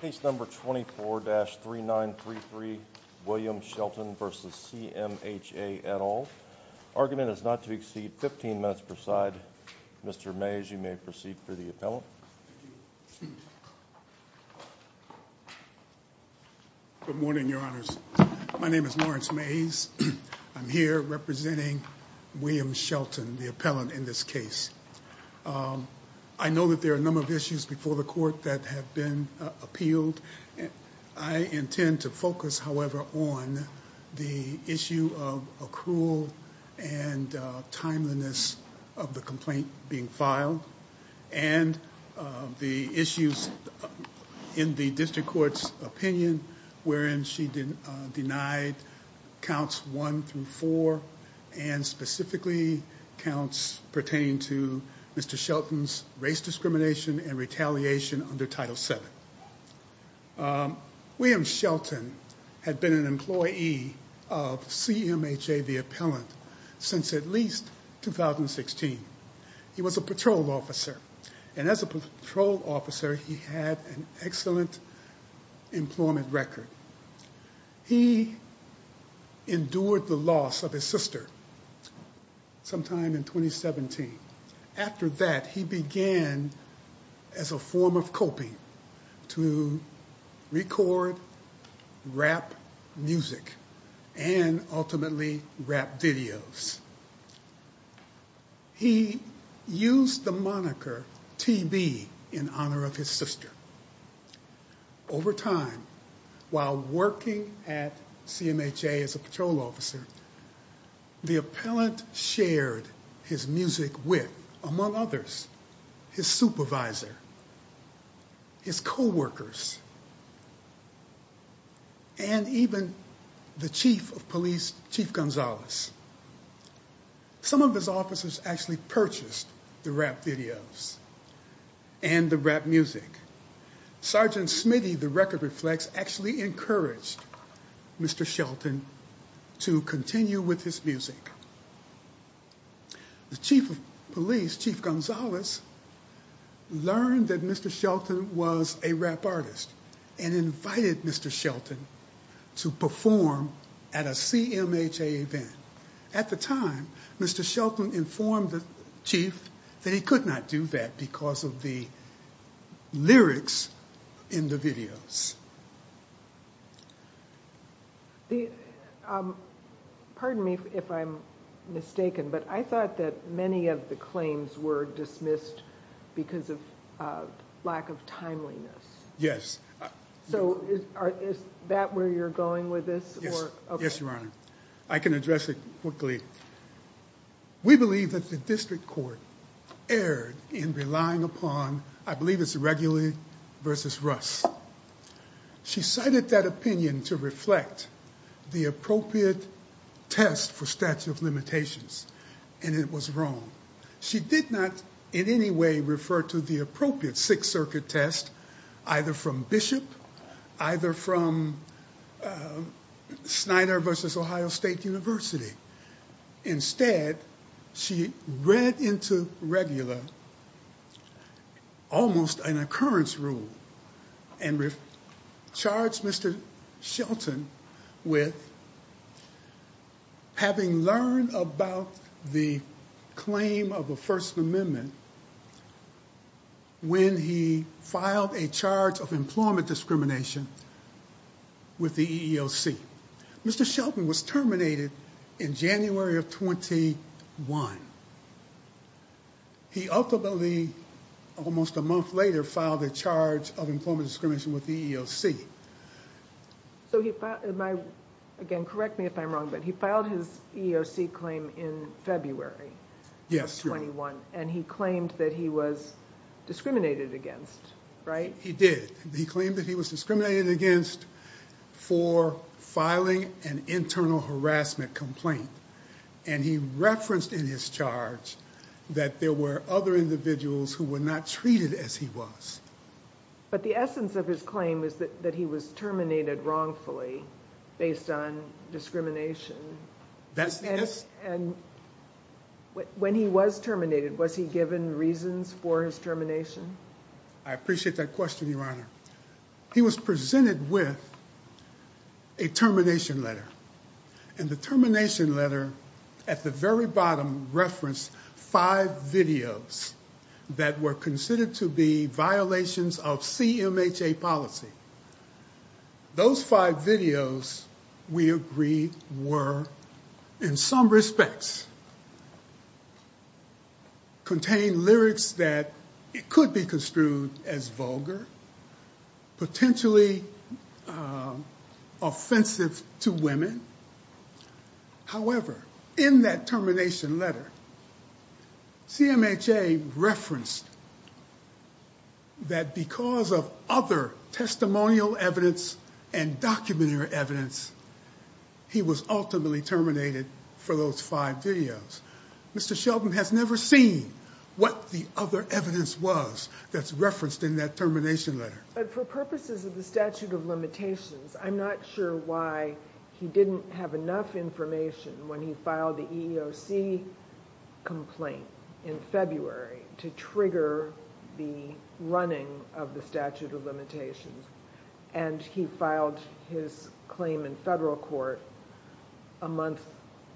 Case number 24-3933 William Shelton v. CMHA et al. Argument is not to exceed 15 minutes per side. Mr. Mays, you may proceed for the appellant. Good morning, your honors. My name is Lawrence Mays. I'm here representing William Shelton, the appellant in this case. I know that there are a number of issues before the court that have been appealed. I intend to focus, however, on the issue of accrual and timeliness of the complaint being filed. And the issues in the district court's opinion wherein she denied counts one through four and specifically counts pertaining to Mr. Shelton's race discrimination and retaliation under Title VII. William Shelton had been an employee of CMHA, the appellant, since at least 2016. He was a patrol officer. And as a patrol officer, he had an excellent employment record. He endured the loss of his sister sometime in 2017. After that, he began, as a form of coping, to record, rap music, and ultimately rap videos. He used the moniker TB in honor of his sister. Over time, while working at CMHA as a patrol officer, the appellant shared his music with, among others, his supervisor, his coworkers, and even the chief of police, Chief Gonzales. Some of his officers actually purchased the rap videos and the rap music. Sergeant Smitty, the record reflects, actually encouraged Mr. Shelton to continue with his music. The chief of police, Chief Gonzales, learned that Mr. Shelton was a rap artist and invited Mr. Shelton to perform at a CMHA event. At the time, Mr. Shelton informed the chief that he could not do that because of the lyrics in the videos. Pardon me if I'm mistaken, but I thought that many of the claims were dismissed because of lack of timeliness. Yes. So is that where you're going with this? Yes, Your Honor. I can address it quickly. We believe that the district court erred in relying upon, I believe it's Regula versus Russ. She cited that opinion to reflect the appropriate test for statute of limitations, and it was wrong. She did not in any way refer to the appropriate Sixth Circuit test either from Bishop, either from Schneider versus Ohio State University. Instead, she read into Regula almost an occurrence rule and charged Mr. Shelton with having learned about the claim of a First Amendment when he filed a charge of employment discrimination with the EEOC. Mr. Shelton was terminated in January of 21. He ultimately, almost a month later, filed a charge of employment discrimination with the EEOC. So he filed, again, correct me if I'm wrong, but he filed his EEOC claim in February of 21. And he claimed that he was discriminated against, right? He did. He claimed that he was discriminated against for filing an internal harassment complaint. And he referenced in his charge that there were other individuals who were not treated as he was. But the essence of his claim is that he was terminated wrongfully based on discrimination. That's the essence. And when he was terminated, was he given reasons for his termination? I appreciate that question, Your Honor. He was presented with a termination letter. And the termination letter, at the very bottom, referenced five videos that were considered to be violations of CMHA policy. Those five videos, we agree, were, in some respects, contained lyrics that could be construed as vulgar, potentially offensive to women. However, in that termination letter, CMHA referenced that because of other testimonial evidence and documentary evidence, he was ultimately terminated for those five videos. Mr. Sheldon has never seen what the other evidence was that's referenced in that termination letter. But for purposes of the statute of limitations, I'm not sure why he didn't have enough information when he filed the EEOC complaint in February to trigger the running of the statute of limitations. And he filed his claim in federal court a month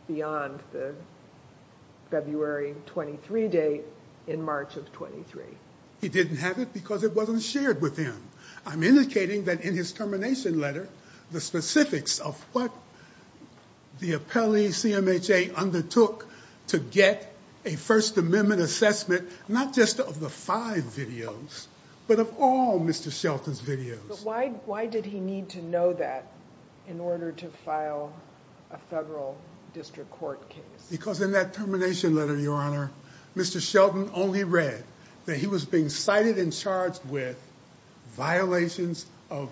beyond the February 23 date in March of 23. He didn't have it because it wasn't shared with him. I'm indicating that in his termination letter, the specifics of what the appellee CMHA undertook to get a First Amendment assessment, not just of the five videos, but of all Mr. Sheldon's videos. But why did he need to know that in order to file a federal district court case? Because in that termination letter, Your Honor, Mr. Sheldon only read that he was being cited and charged with violations of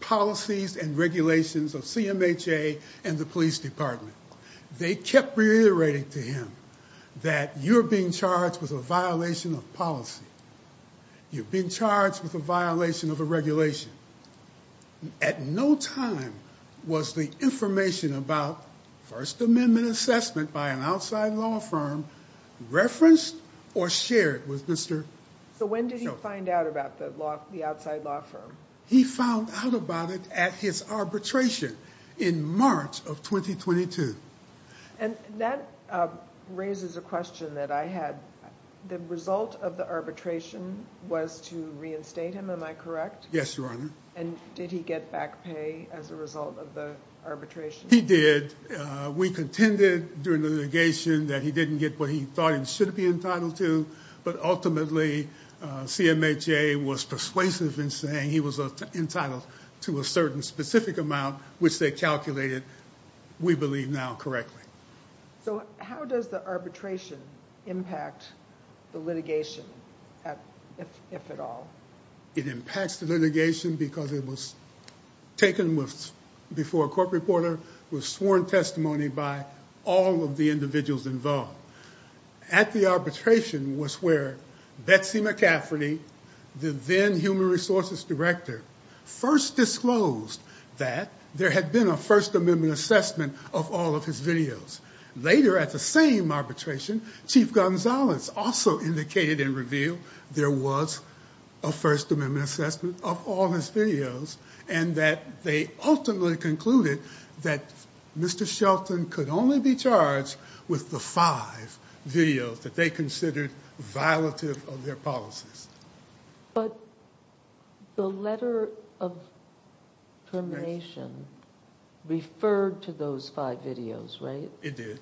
policies and regulations of CMHA and the police department. They kept reiterating to him that you're being charged with a violation of policy. You've been charged with a violation of a regulation. At no time was the information about First Amendment assessment by an outside law firm referenced or shared with Mr. Sheldon. So when did he find out about the outside law firm? He found out about it at his arbitration in March of 2022. And that raises a question that I had. The result of the arbitration was to reinstate him, am I correct? Yes, Your Honor. And did he get back pay as a result of the arbitration? He did. We contended during the litigation that he didn't get what he thought he should be entitled to. But ultimately, CMHA was persuasive in saying he was entitled to a certain specific amount, which they calculated, we believe now, correctly. So how does the arbitration impact the litigation, if at all? It impacts the litigation because it was taken before a court reporter, was sworn testimony by all of the individuals involved. At the arbitration was where Betsy McCafferty, the then Human Resources Director, first disclosed that there had been a First Amendment assessment of all of his videos. Later at the same arbitration, Chief Gonzales also indicated and revealed there was a First Amendment assessment of all his videos, and that they ultimately concluded that Mr. Shelton could only be charged with the five videos that they considered violative of their policies. But the letter of termination referred to those five videos, right? It did.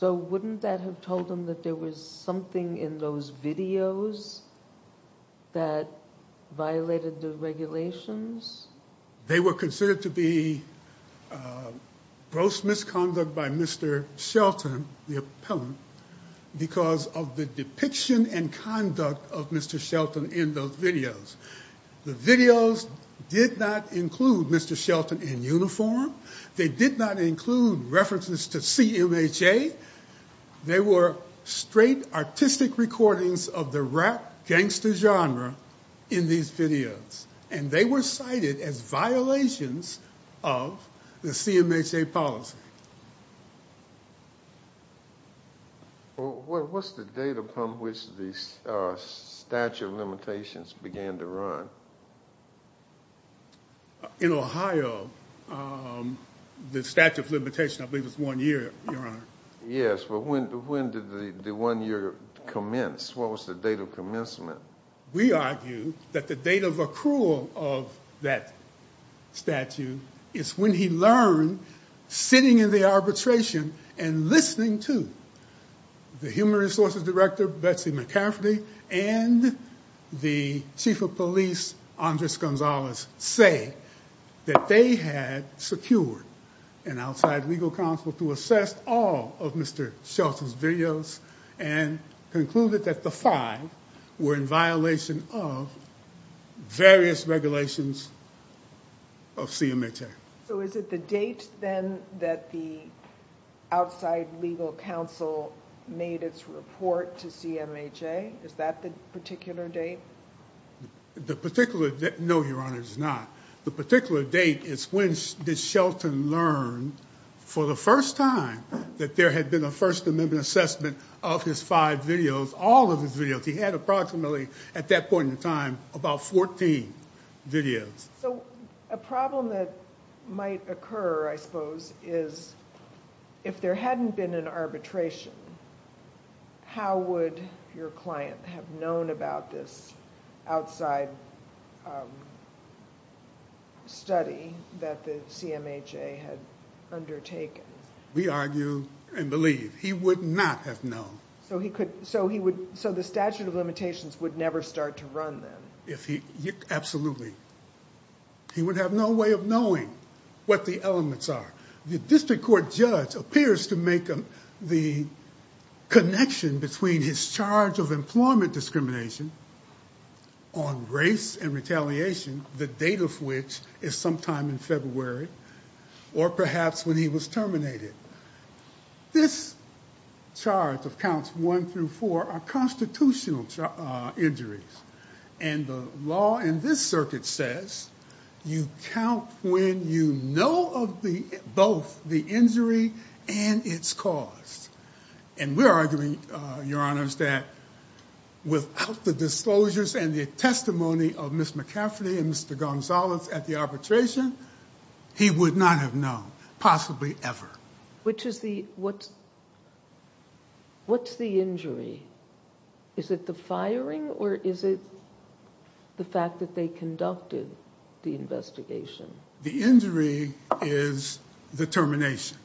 So wouldn't that have told them that there was something in those videos that violated the regulations? They were considered to be gross misconduct by Mr. Shelton, the appellant, because of the depiction and conduct of Mr. Shelton in those videos. The videos did not include Mr. Shelton in uniform. They did not include references to CMHA. They were straight artistic recordings of the rap gangster genre in these videos. And they were cited as violations of the CMHA policy. Well, what's the date upon which the statute of limitations began to run? In Ohio, the statute of limitations, I believe, was one year, Your Honor. Yes, but when did the one year commence? What was the date of commencement? We argue that the date of accrual of that statute is when he learned, sitting in the arbitration and listening to the human resources director, Betsy McCaffrey, and the chief of police, Andres Gonzalez, say that they had secured an outside legal counsel to assess all of Mr. Shelton's videos and concluded that the five were in violation of various regulations of CMHA. So is it the date, then, that the outside legal counsel made its report to CMHA? Is that the particular date? No, Your Honor, it is not. The particular date is when did Shelton learn, for the first time, that there had been a First Amendment assessment of his five videos, all of his videos. He had approximately, at that point in time, about 14 videos. So a problem that might occur, I suppose, is if there hadn't been an arbitration, how would your client have known about this outside study that the CMHA had undertaken? We argue and believe he would not have known. So the statute of limitations would never start to run, then? Absolutely. He would have no way of knowing what the elements are. The district court judge appears to make the connection between his charge of employment discrimination on race and retaliation, the date of which is sometime in February, or perhaps when he was terminated. This charge of counts one through four are constitutional injuries, and the law in this circuit says you count when you know of both the injury and its cause. And we're arguing, Your Honors, that without the disclosures and the testimony of Ms. McCafferty and Mr. Gonzalez at the arbitration, he would not have known, possibly ever. What's the injury? Is it the firing, or is it the fact that they conducted the investigation? The injury is the termination.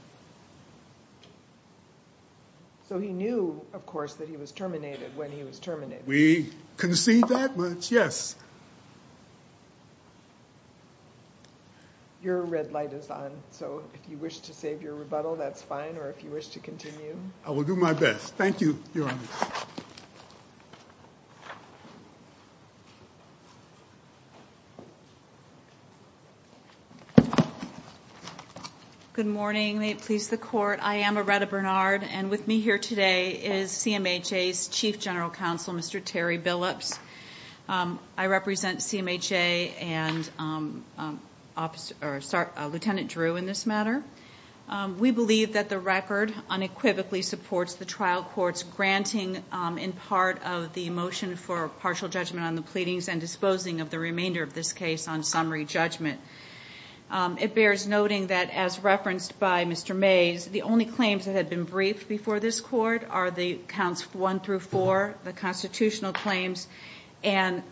So he knew, of course, that he was terminated when he was terminated. We concede that much, yes. Your red light is on, so if you wish to save your rebuttal, that's fine, or if you wish to continue. I will do my best. Thank you, Your Honors. Good morning. May it please the Court. I am Aretta Bernard, and with me here today is CMHA's Chief General Counsel, Mr. Terry Billups. I represent CMHA and Lieutenant Drew in this matter. We believe that the record unequivocally supports the trial court's granting, in part, of the motion for partial judgment on the pleadings and disposing of the remainder of this case on summary judgment. It bears noting that, as referenced by Mr. Mays, the only claims that have been briefed before this Court are the counts one through four, the constitutional claims, and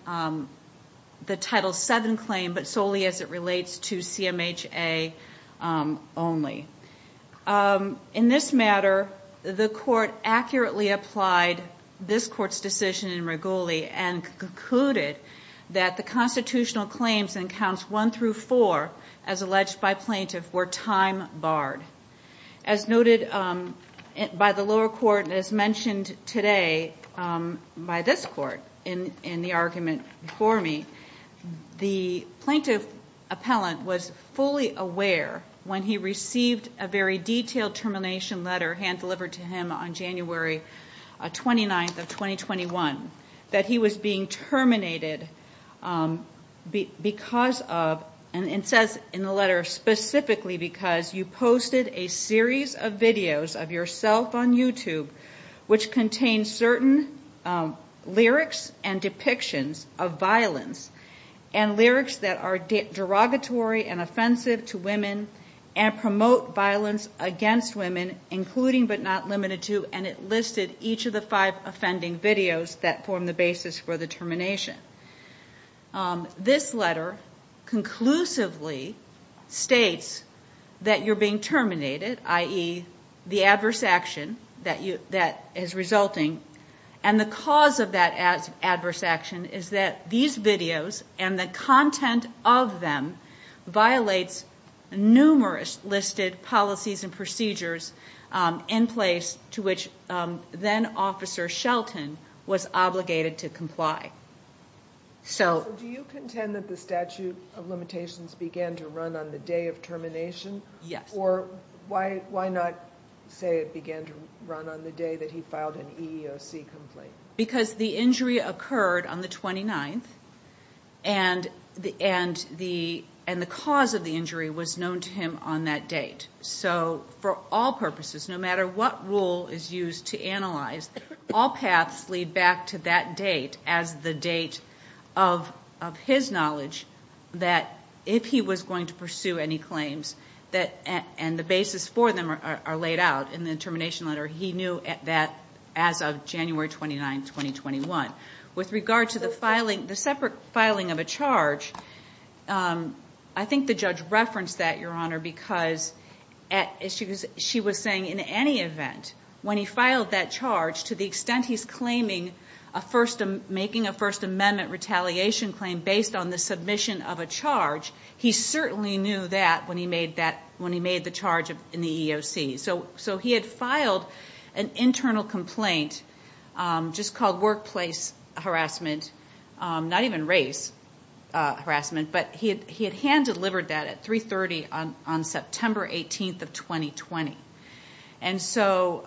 the Title VII claim, but solely as it relates to CMHA only. In this matter, the Court accurately applied this Court's decision in Reguli and concluded that the constitutional claims in counts one through four, as alleged by plaintiff, were time-barred. As noted by the lower court and as mentioned today by this Court in the argument before me, the plaintiff appellant was fully aware when he received a very detailed termination letter delivered to him on January 29th of 2021, that he was being terminated because of, and it says in the letter, specifically because you posted a series of videos of yourself on YouTube which contained certain lyrics and depictions of violence, and lyrics that are derogatory and offensive to women and promote violence against women, including but not limited to, and it listed each of the five offending videos that form the basis for the termination. This letter conclusively states that you're being terminated, i.e., the adverse action that is resulting, and the cause of that adverse action is that these videos and the content of them violates numerous listed policies and procedures in place to which then-officer Shelton was obligated to comply. So do you contend that the statute of limitations began to run on the day of termination? Yes. Or why not say it began to run on the day that he filed an EEOC complaint? Because the injury occurred on the 29th, and the cause of the injury was known to him on that date. So for all purposes, no matter what rule is used to analyze, all paths lead back to that date as the date of his knowledge that if he was going to pursue any claims, and the basis for them are laid out in the termination letter, he knew that as of January 29, 2021. With regard to the separate filing of a charge, I think the judge referenced that, Your Honor, because as she was saying, in any event, when he filed that charge, to the extent he's making a First Amendment retaliation claim based on the submission of a charge, he certainly knew that when he made the charge in the EEOC. So he had filed an internal complaint just called workplace harassment, not even race harassment, but he had hand-delivered that at 3.30 on September 18th of 2020. And so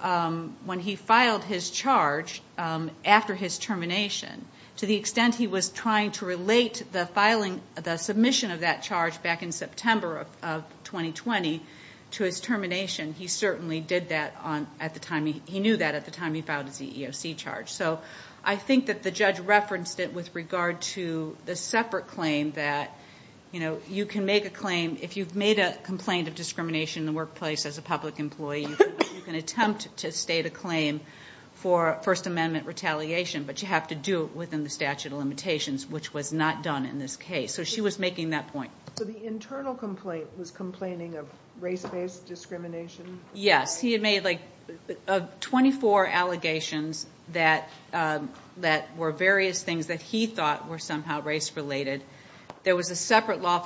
when he filed his charge after his termination, to the extent he was trying to relate the submission of that charge back in September of 2020 to his termination, he certainly did that at the time, he knew that at the time he filed his EEOC charge. So I think that the judge referenced it with regard to the separate claim that you can make a claim, if you've made a complaint of discrimination in the workplace as a public employee, you can attempt to state a claim for First Amendment retaliation, but you have to do it within the statute of limitations, which was not done in this case. So she was making that point. So the internal complaint was complaining of race-based discrimination? Yes, he had made like 24 allegations that were various things that he thought were somehow race-related. There was a separate law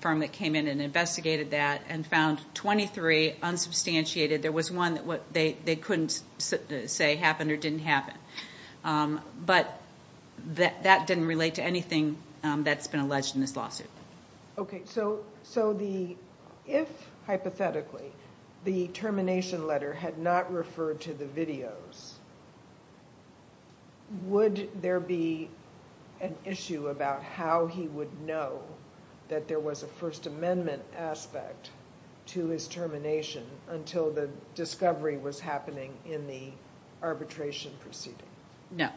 firm that came in and investigated that and found 23 unsubstantiated. There was one that they couldn't say happened or didn't happen. But that didn't relate to anything that's been alleged in this lawsuit. Okay. So if, hypothetically, the termination letter had not referred to the videos, would there be an issue about how he would know that there was a First Amendment aspect to his termination until the discovery was happening in the arbitration proceeding? No,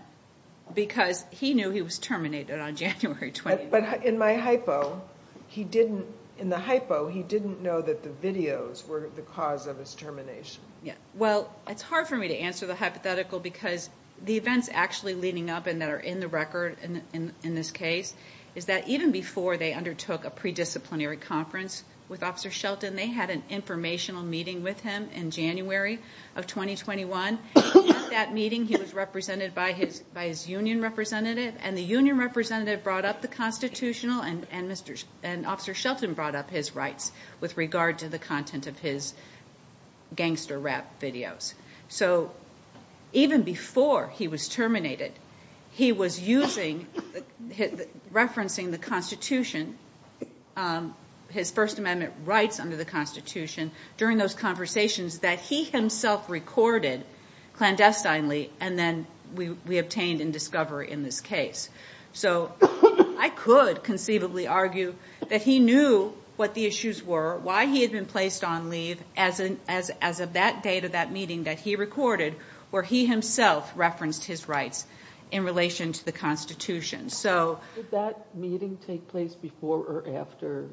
because he knew he was terminated on January 20th. But in my hypo, he didn't, in the hypo, he didn't know that the videos were the cause of his termination. Well, it's hard for me to answer the hypothetical because the events actually leading up and that are in the record in this case is that even before they undertook a pre-disciplinary conference with Officer Shelton, they had an informational meeting with him in January of 2021. At that meeting, he was represented by his union representative, and the union representative brought up the constitutional and Officer Shelton brought up his rights with regard to the content of his gangster rap videos. So even before he was terminated, he was using, referencing the Constitution, his First Amendment rights under the Constitution during those conversations that he himself recorded clandestinely, and then we obtained in discovery in this case. So I could conceivably argue that he knew what the issues were, why he had been placed on leave as of that date of that meeting that he recorded, where he himself referenced his rights in relation to the Constitution. Did that meeting take place before or after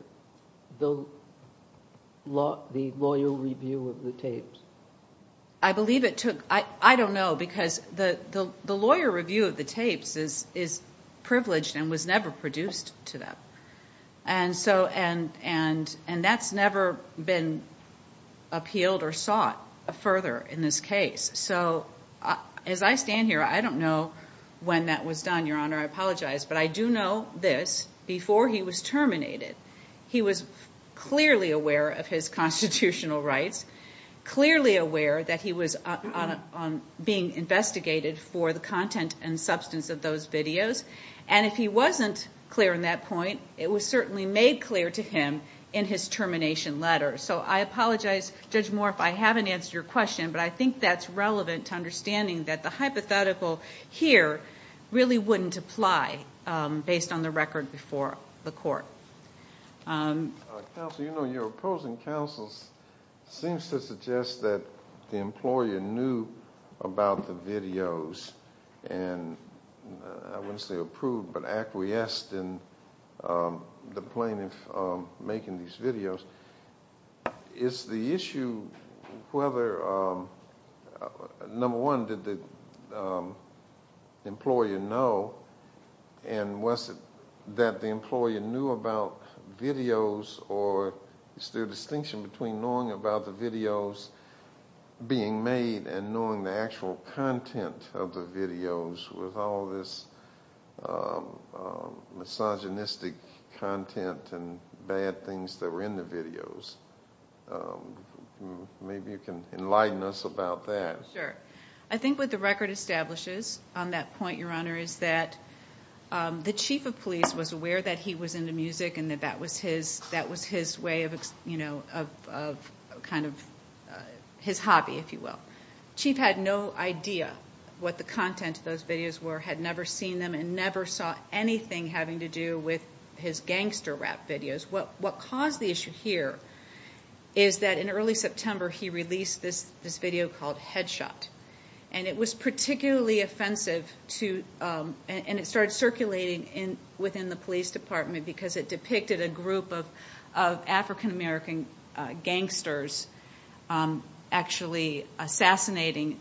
the lawyer review of the tapes? I believe it took, I don't know, because the lawyer review of the tapes is privileged and was never produced to them, and that's never been appealed or sought further in this case. So as I stand here, I don't know when that was done, Your Honor. I apologize, but I do know this. Before he was terminated, he was clearly aware of his constitutional rights, clearly aware that he was being investigated for the content and substance of those videos, and if he wasn't clear on that point, it was certainly made clear to him in his termination letter. So I apologize, Judge Moore, if I haven't answered your question, but I think that's relevant to understanding that the hypothetical here really wouldn't apply, based on the record before the court. Counsel, you know, your opposing counsel seems to suggest that the employer knew about the videos and, I wouldn't say approved, but acquiesced in the plaintiff making these videos. Is the issue whether, number one, did the employer know and was it that the employer knew about videos or is there a distinction between knowing about the videos being made and knowing the actual content of the videos with all this misogynistic content and bad things that were in the videos? Maybe you can enlighten us about that. Sure. I think what the record establishes on that point, Your Honor, is that the chief of police was aware that he was into music and that that was his way of kind of his hobby, if you will. The chief had no idea what the content of those videos were, had never seen them, and never saw anything having to do with his gangster rap videos. What caused the issue here is that in early September he released this video called Headshot, and it was particularly offensive and it started circulating within the police department because it depicted a group of African-American gangsters actually assassinating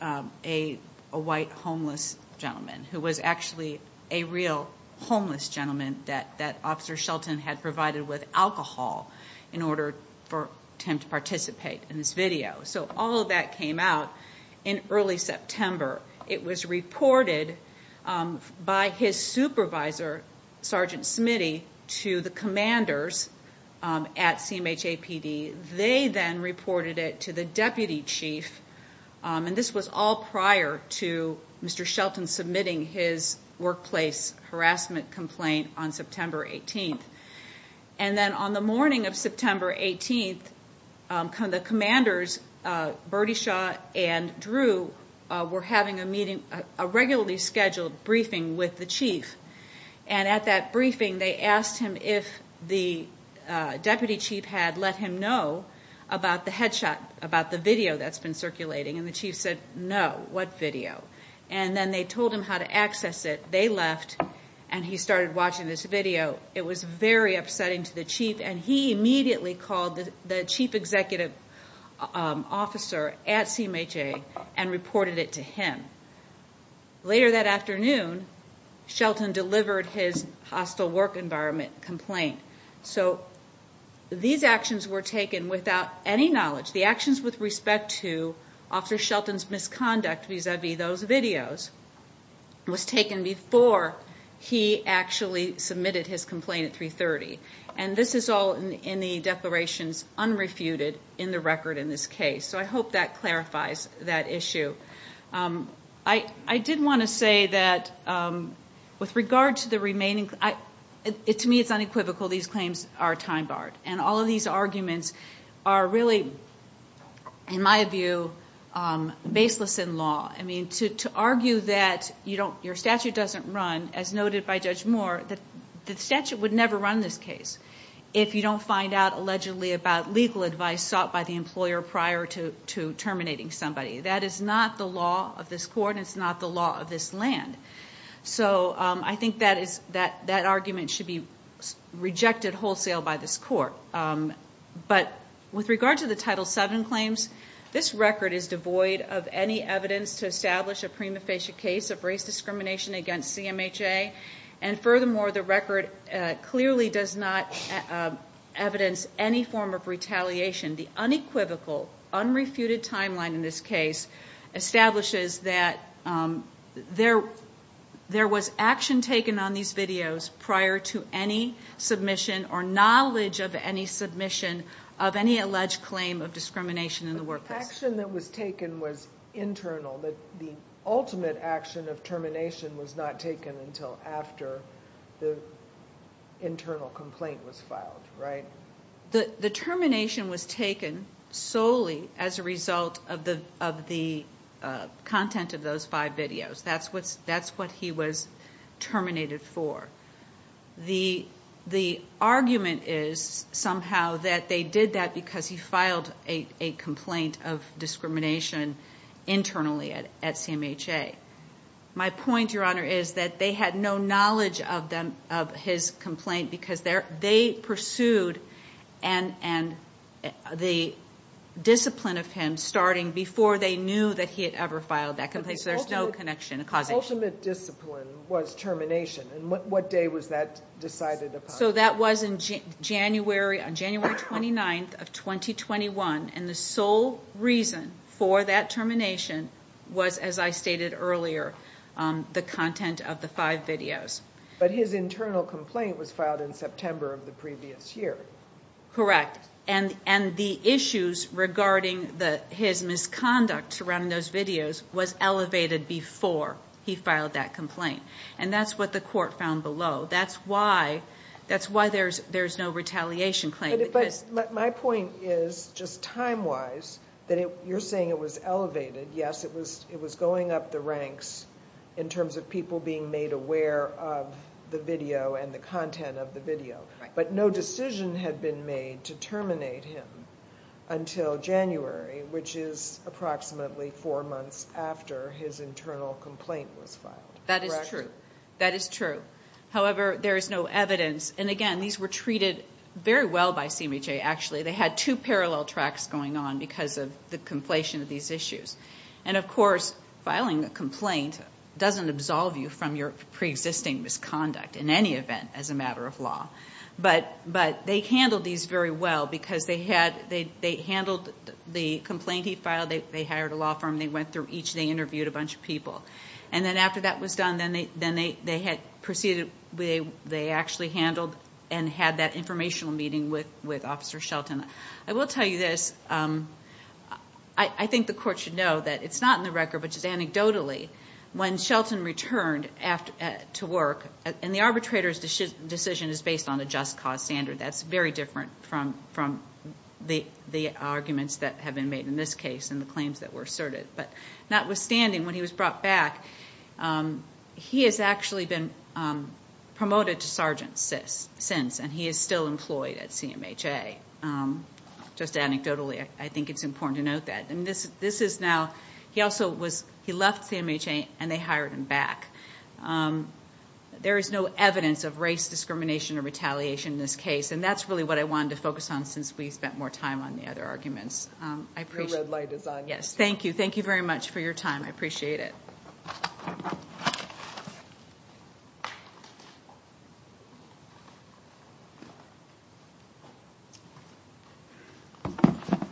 a white homeless gentleman who was actually a real homeless gentleman that Officer Shelton had provided with alcohol in order for him to participate in this video. So all of that came out in early September. It was reported by his supervisor, Sergeant Smitty, to the commanders at CMHAPD. They then reported it to the deputy chief, and this was all prior to Mr. Shelton submitting his workplace harassment complaint on September 18th. And then on the morning of September 18th, the commanders, Bertie Shaw and Drew, were having a meeting, a regularly scheduled briefing with the chief. And at that briefing they asked him if the deputy chief had let him know about the headshot, about the video that's been circulating, and the chief said, no, what video? And then they told him how to access it. They left, and he started watching this video. It was very upsetting to the chief, and he immediately called the chief executive officer at CMHA and reported it to him. Later that afternoon, Shelton delivered his hostile work environment complaint. So these actions were taken without any knowledge. The actions with respect to Officer Shelton's misconduct vis-a-vis those videos was taken before he actually submitted his complaint at 330. And this is all in the declarations unrefuted in the record in this case. So I hope that clarifies that issue. I did want to say that with regard to the remaining, to me it's unequivocal, these claims are time-barred. And all of these arguments are really, in my view, baseless in law. I mean, to argue that your statute doesn't run, as noted by Judge Moore, the statute would never run this case if you don't find out allegedly about legal advice sought by the employer prior to terminating somebody. That is not the law of this court, and it's not the law of this land. So I think that argument should be rejected wholesale by this court. But with regard to the Title VII claims, this record is devoid of any evidence to establish a prima facie case of race discrimination against CMHA. And furthermore, the record clearly does not evidence any form of retaliation. The unequivocal, unrefuted timeline in this case establishes that there was action taken on these videos prior to any submission or knowledge of any submission of any alleged claim of discrimination in the workplace. But the action that was taken was internal. The ultimate action of termination was not taken until after the internal complaint was filed, right? The termination was taken solely as a result of the content of those five videos. That's what he was terminated for. The argument is somehow that they did that because he filed a complaint of discrimination internally at CMHA. My point, Your Honor, is that they had no knowledge of his complaint because they pursued the discipline of him starting before they knew that he had ever filed that complaint. So there's no connection. The ultimate discipline was termination. And what day was that decided upon? So that was on January 29th of 2021. And the sole reason for that termination was, as I stated earlier, the content of the five videos. But his internal complaint was filed in September of the previous year. Correct. And the issues regarding his misconduct surrounding those videos was elevated before he filed that complaint. And that's what the court found below. That's why there's no retaliation claim. But my point is, just time-wise, that you're saying it was elevated. Yes, it was going up the ranks in terms of people being made aware of the video and the content of the video. But no decision had been made to terminate him until January, which is approximately four months after his internal complaint was filed. That is true. That is true. However, there is no evidence. And, again, these were treated very well by CMHA, actually. They had two parallel tracks going on because of the conflation of these issues. And, of course, filing a complaint doesn't absolve you from your preexisting misconduct, in any event, as a matter of law. But they handled these very well because they handled the complaint he filed. They hired a law firm. They went through each. They interviewed a bunch of people. And then after that was done, then they had proceeded. They actually handled and had that informational meeting with Officer Shelton. I will tell you this. I think the court should know that it's not in the record, but just anecdotally, when Shelton returned to work, and the arbitrator's decision is based on a just cause standard. That's very different from the arguments that have been made in this case and the claims that were asserted. But notwithstanding, when he was brought back, he has actually been promoted to sergeant since. And he is still employed at CMHA. Just anecdotally, I think it's important to note that. And this is now, he also was, he left CMHA and they hired him back. There is no evidence of race discrimination or retaliation in this case. And that's really what I wanted to focus on since we spent more time on the other arguments. Your red light is on. Yes, thank you. Thank you very much for your time. I appreciate it.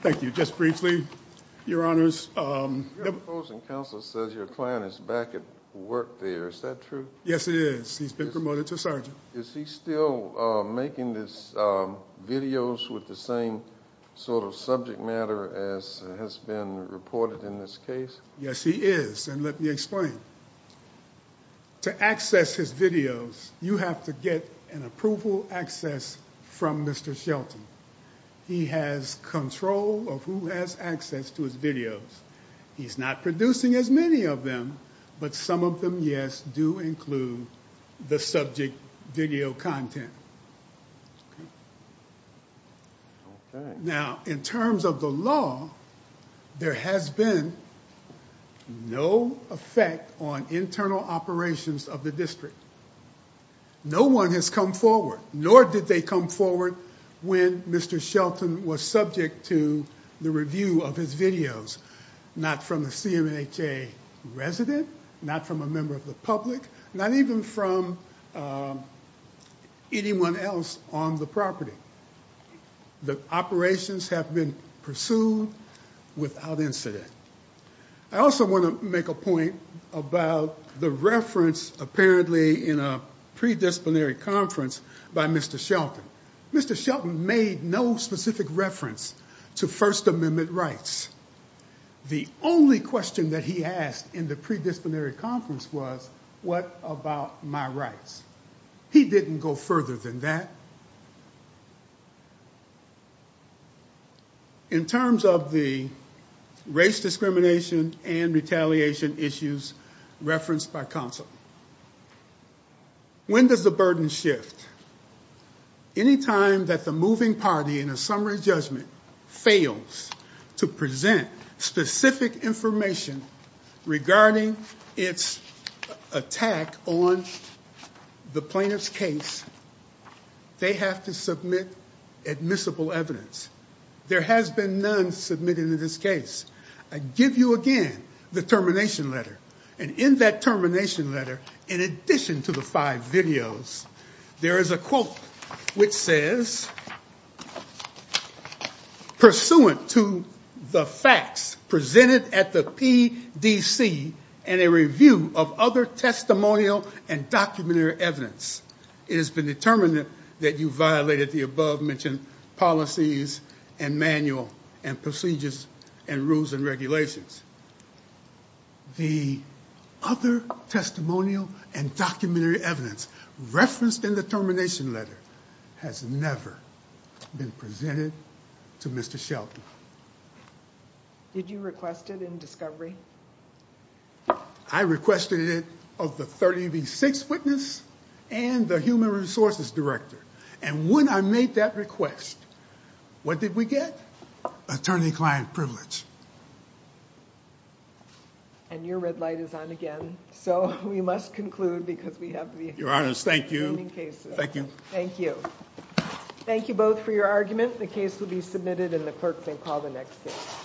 Thank you. Just briefly, Your Honors. Your opposing counsel says your client is back at work there. Is that true? Yes, it is. He's been promoted to sergeant. Is he still making these videos with the same sort of subject matter as has been reported in this case? Yes, he is. And let me explain. To access his videos, you have to get an approval access from Mr. Shelton. He has control of who has access to his videos. He's not producing as many of them, but some of them, yes, do include the subject video content. Okay. Now, in terms of the law, there has been no effect on internal operations of the district. No one has come forward, nor did they come forward when Mr. Shelton was subject to the review of his videos. Not from the CMHA resident, not from a member of the public, not even from anyone else on the property. The operations have been pursued without incident. I also want to make a point about the reference, apparently, in a predisciplinary conference by Mr. Shelton. Mr. Shelton made no specific reference to First Amendment rights. The only question that he asked in the predisciplinary conference was, what about my rights? He didn't go further than that. In terms of the race discrimination and retaliation issues referenced by counsel, when does the burden shift? Anytime that the moving party in a summary judgment fails to present specific information regarding its attack on the plaintiff's case, they have to submit admissible evidence. There has been none submitted in this case. I give you again the termination letter. In that termination letter, in addition to the five videos, there is a quote which says, pursuant to the facts presented at the PDC and a review of other testimonial and documentary evidence, it has been determined that you violated the above-mentioned policies and manual and procedures and rules and regulations. The other testimonial and documentary evidence referenced in the termination letter has never been presented to Mr. Shelton. Did you request it in discovery? I requested it of the 30B6 witness and the human resources director. And when I made that request, what did we get? Attorney-client privilege. And your red light is on again. So, we must conclude because we have the remaining cases. Your Honor, thank you. Thank you. Thank you. Thank you both for your argument. The case will be submitted and the clerk may call the next case.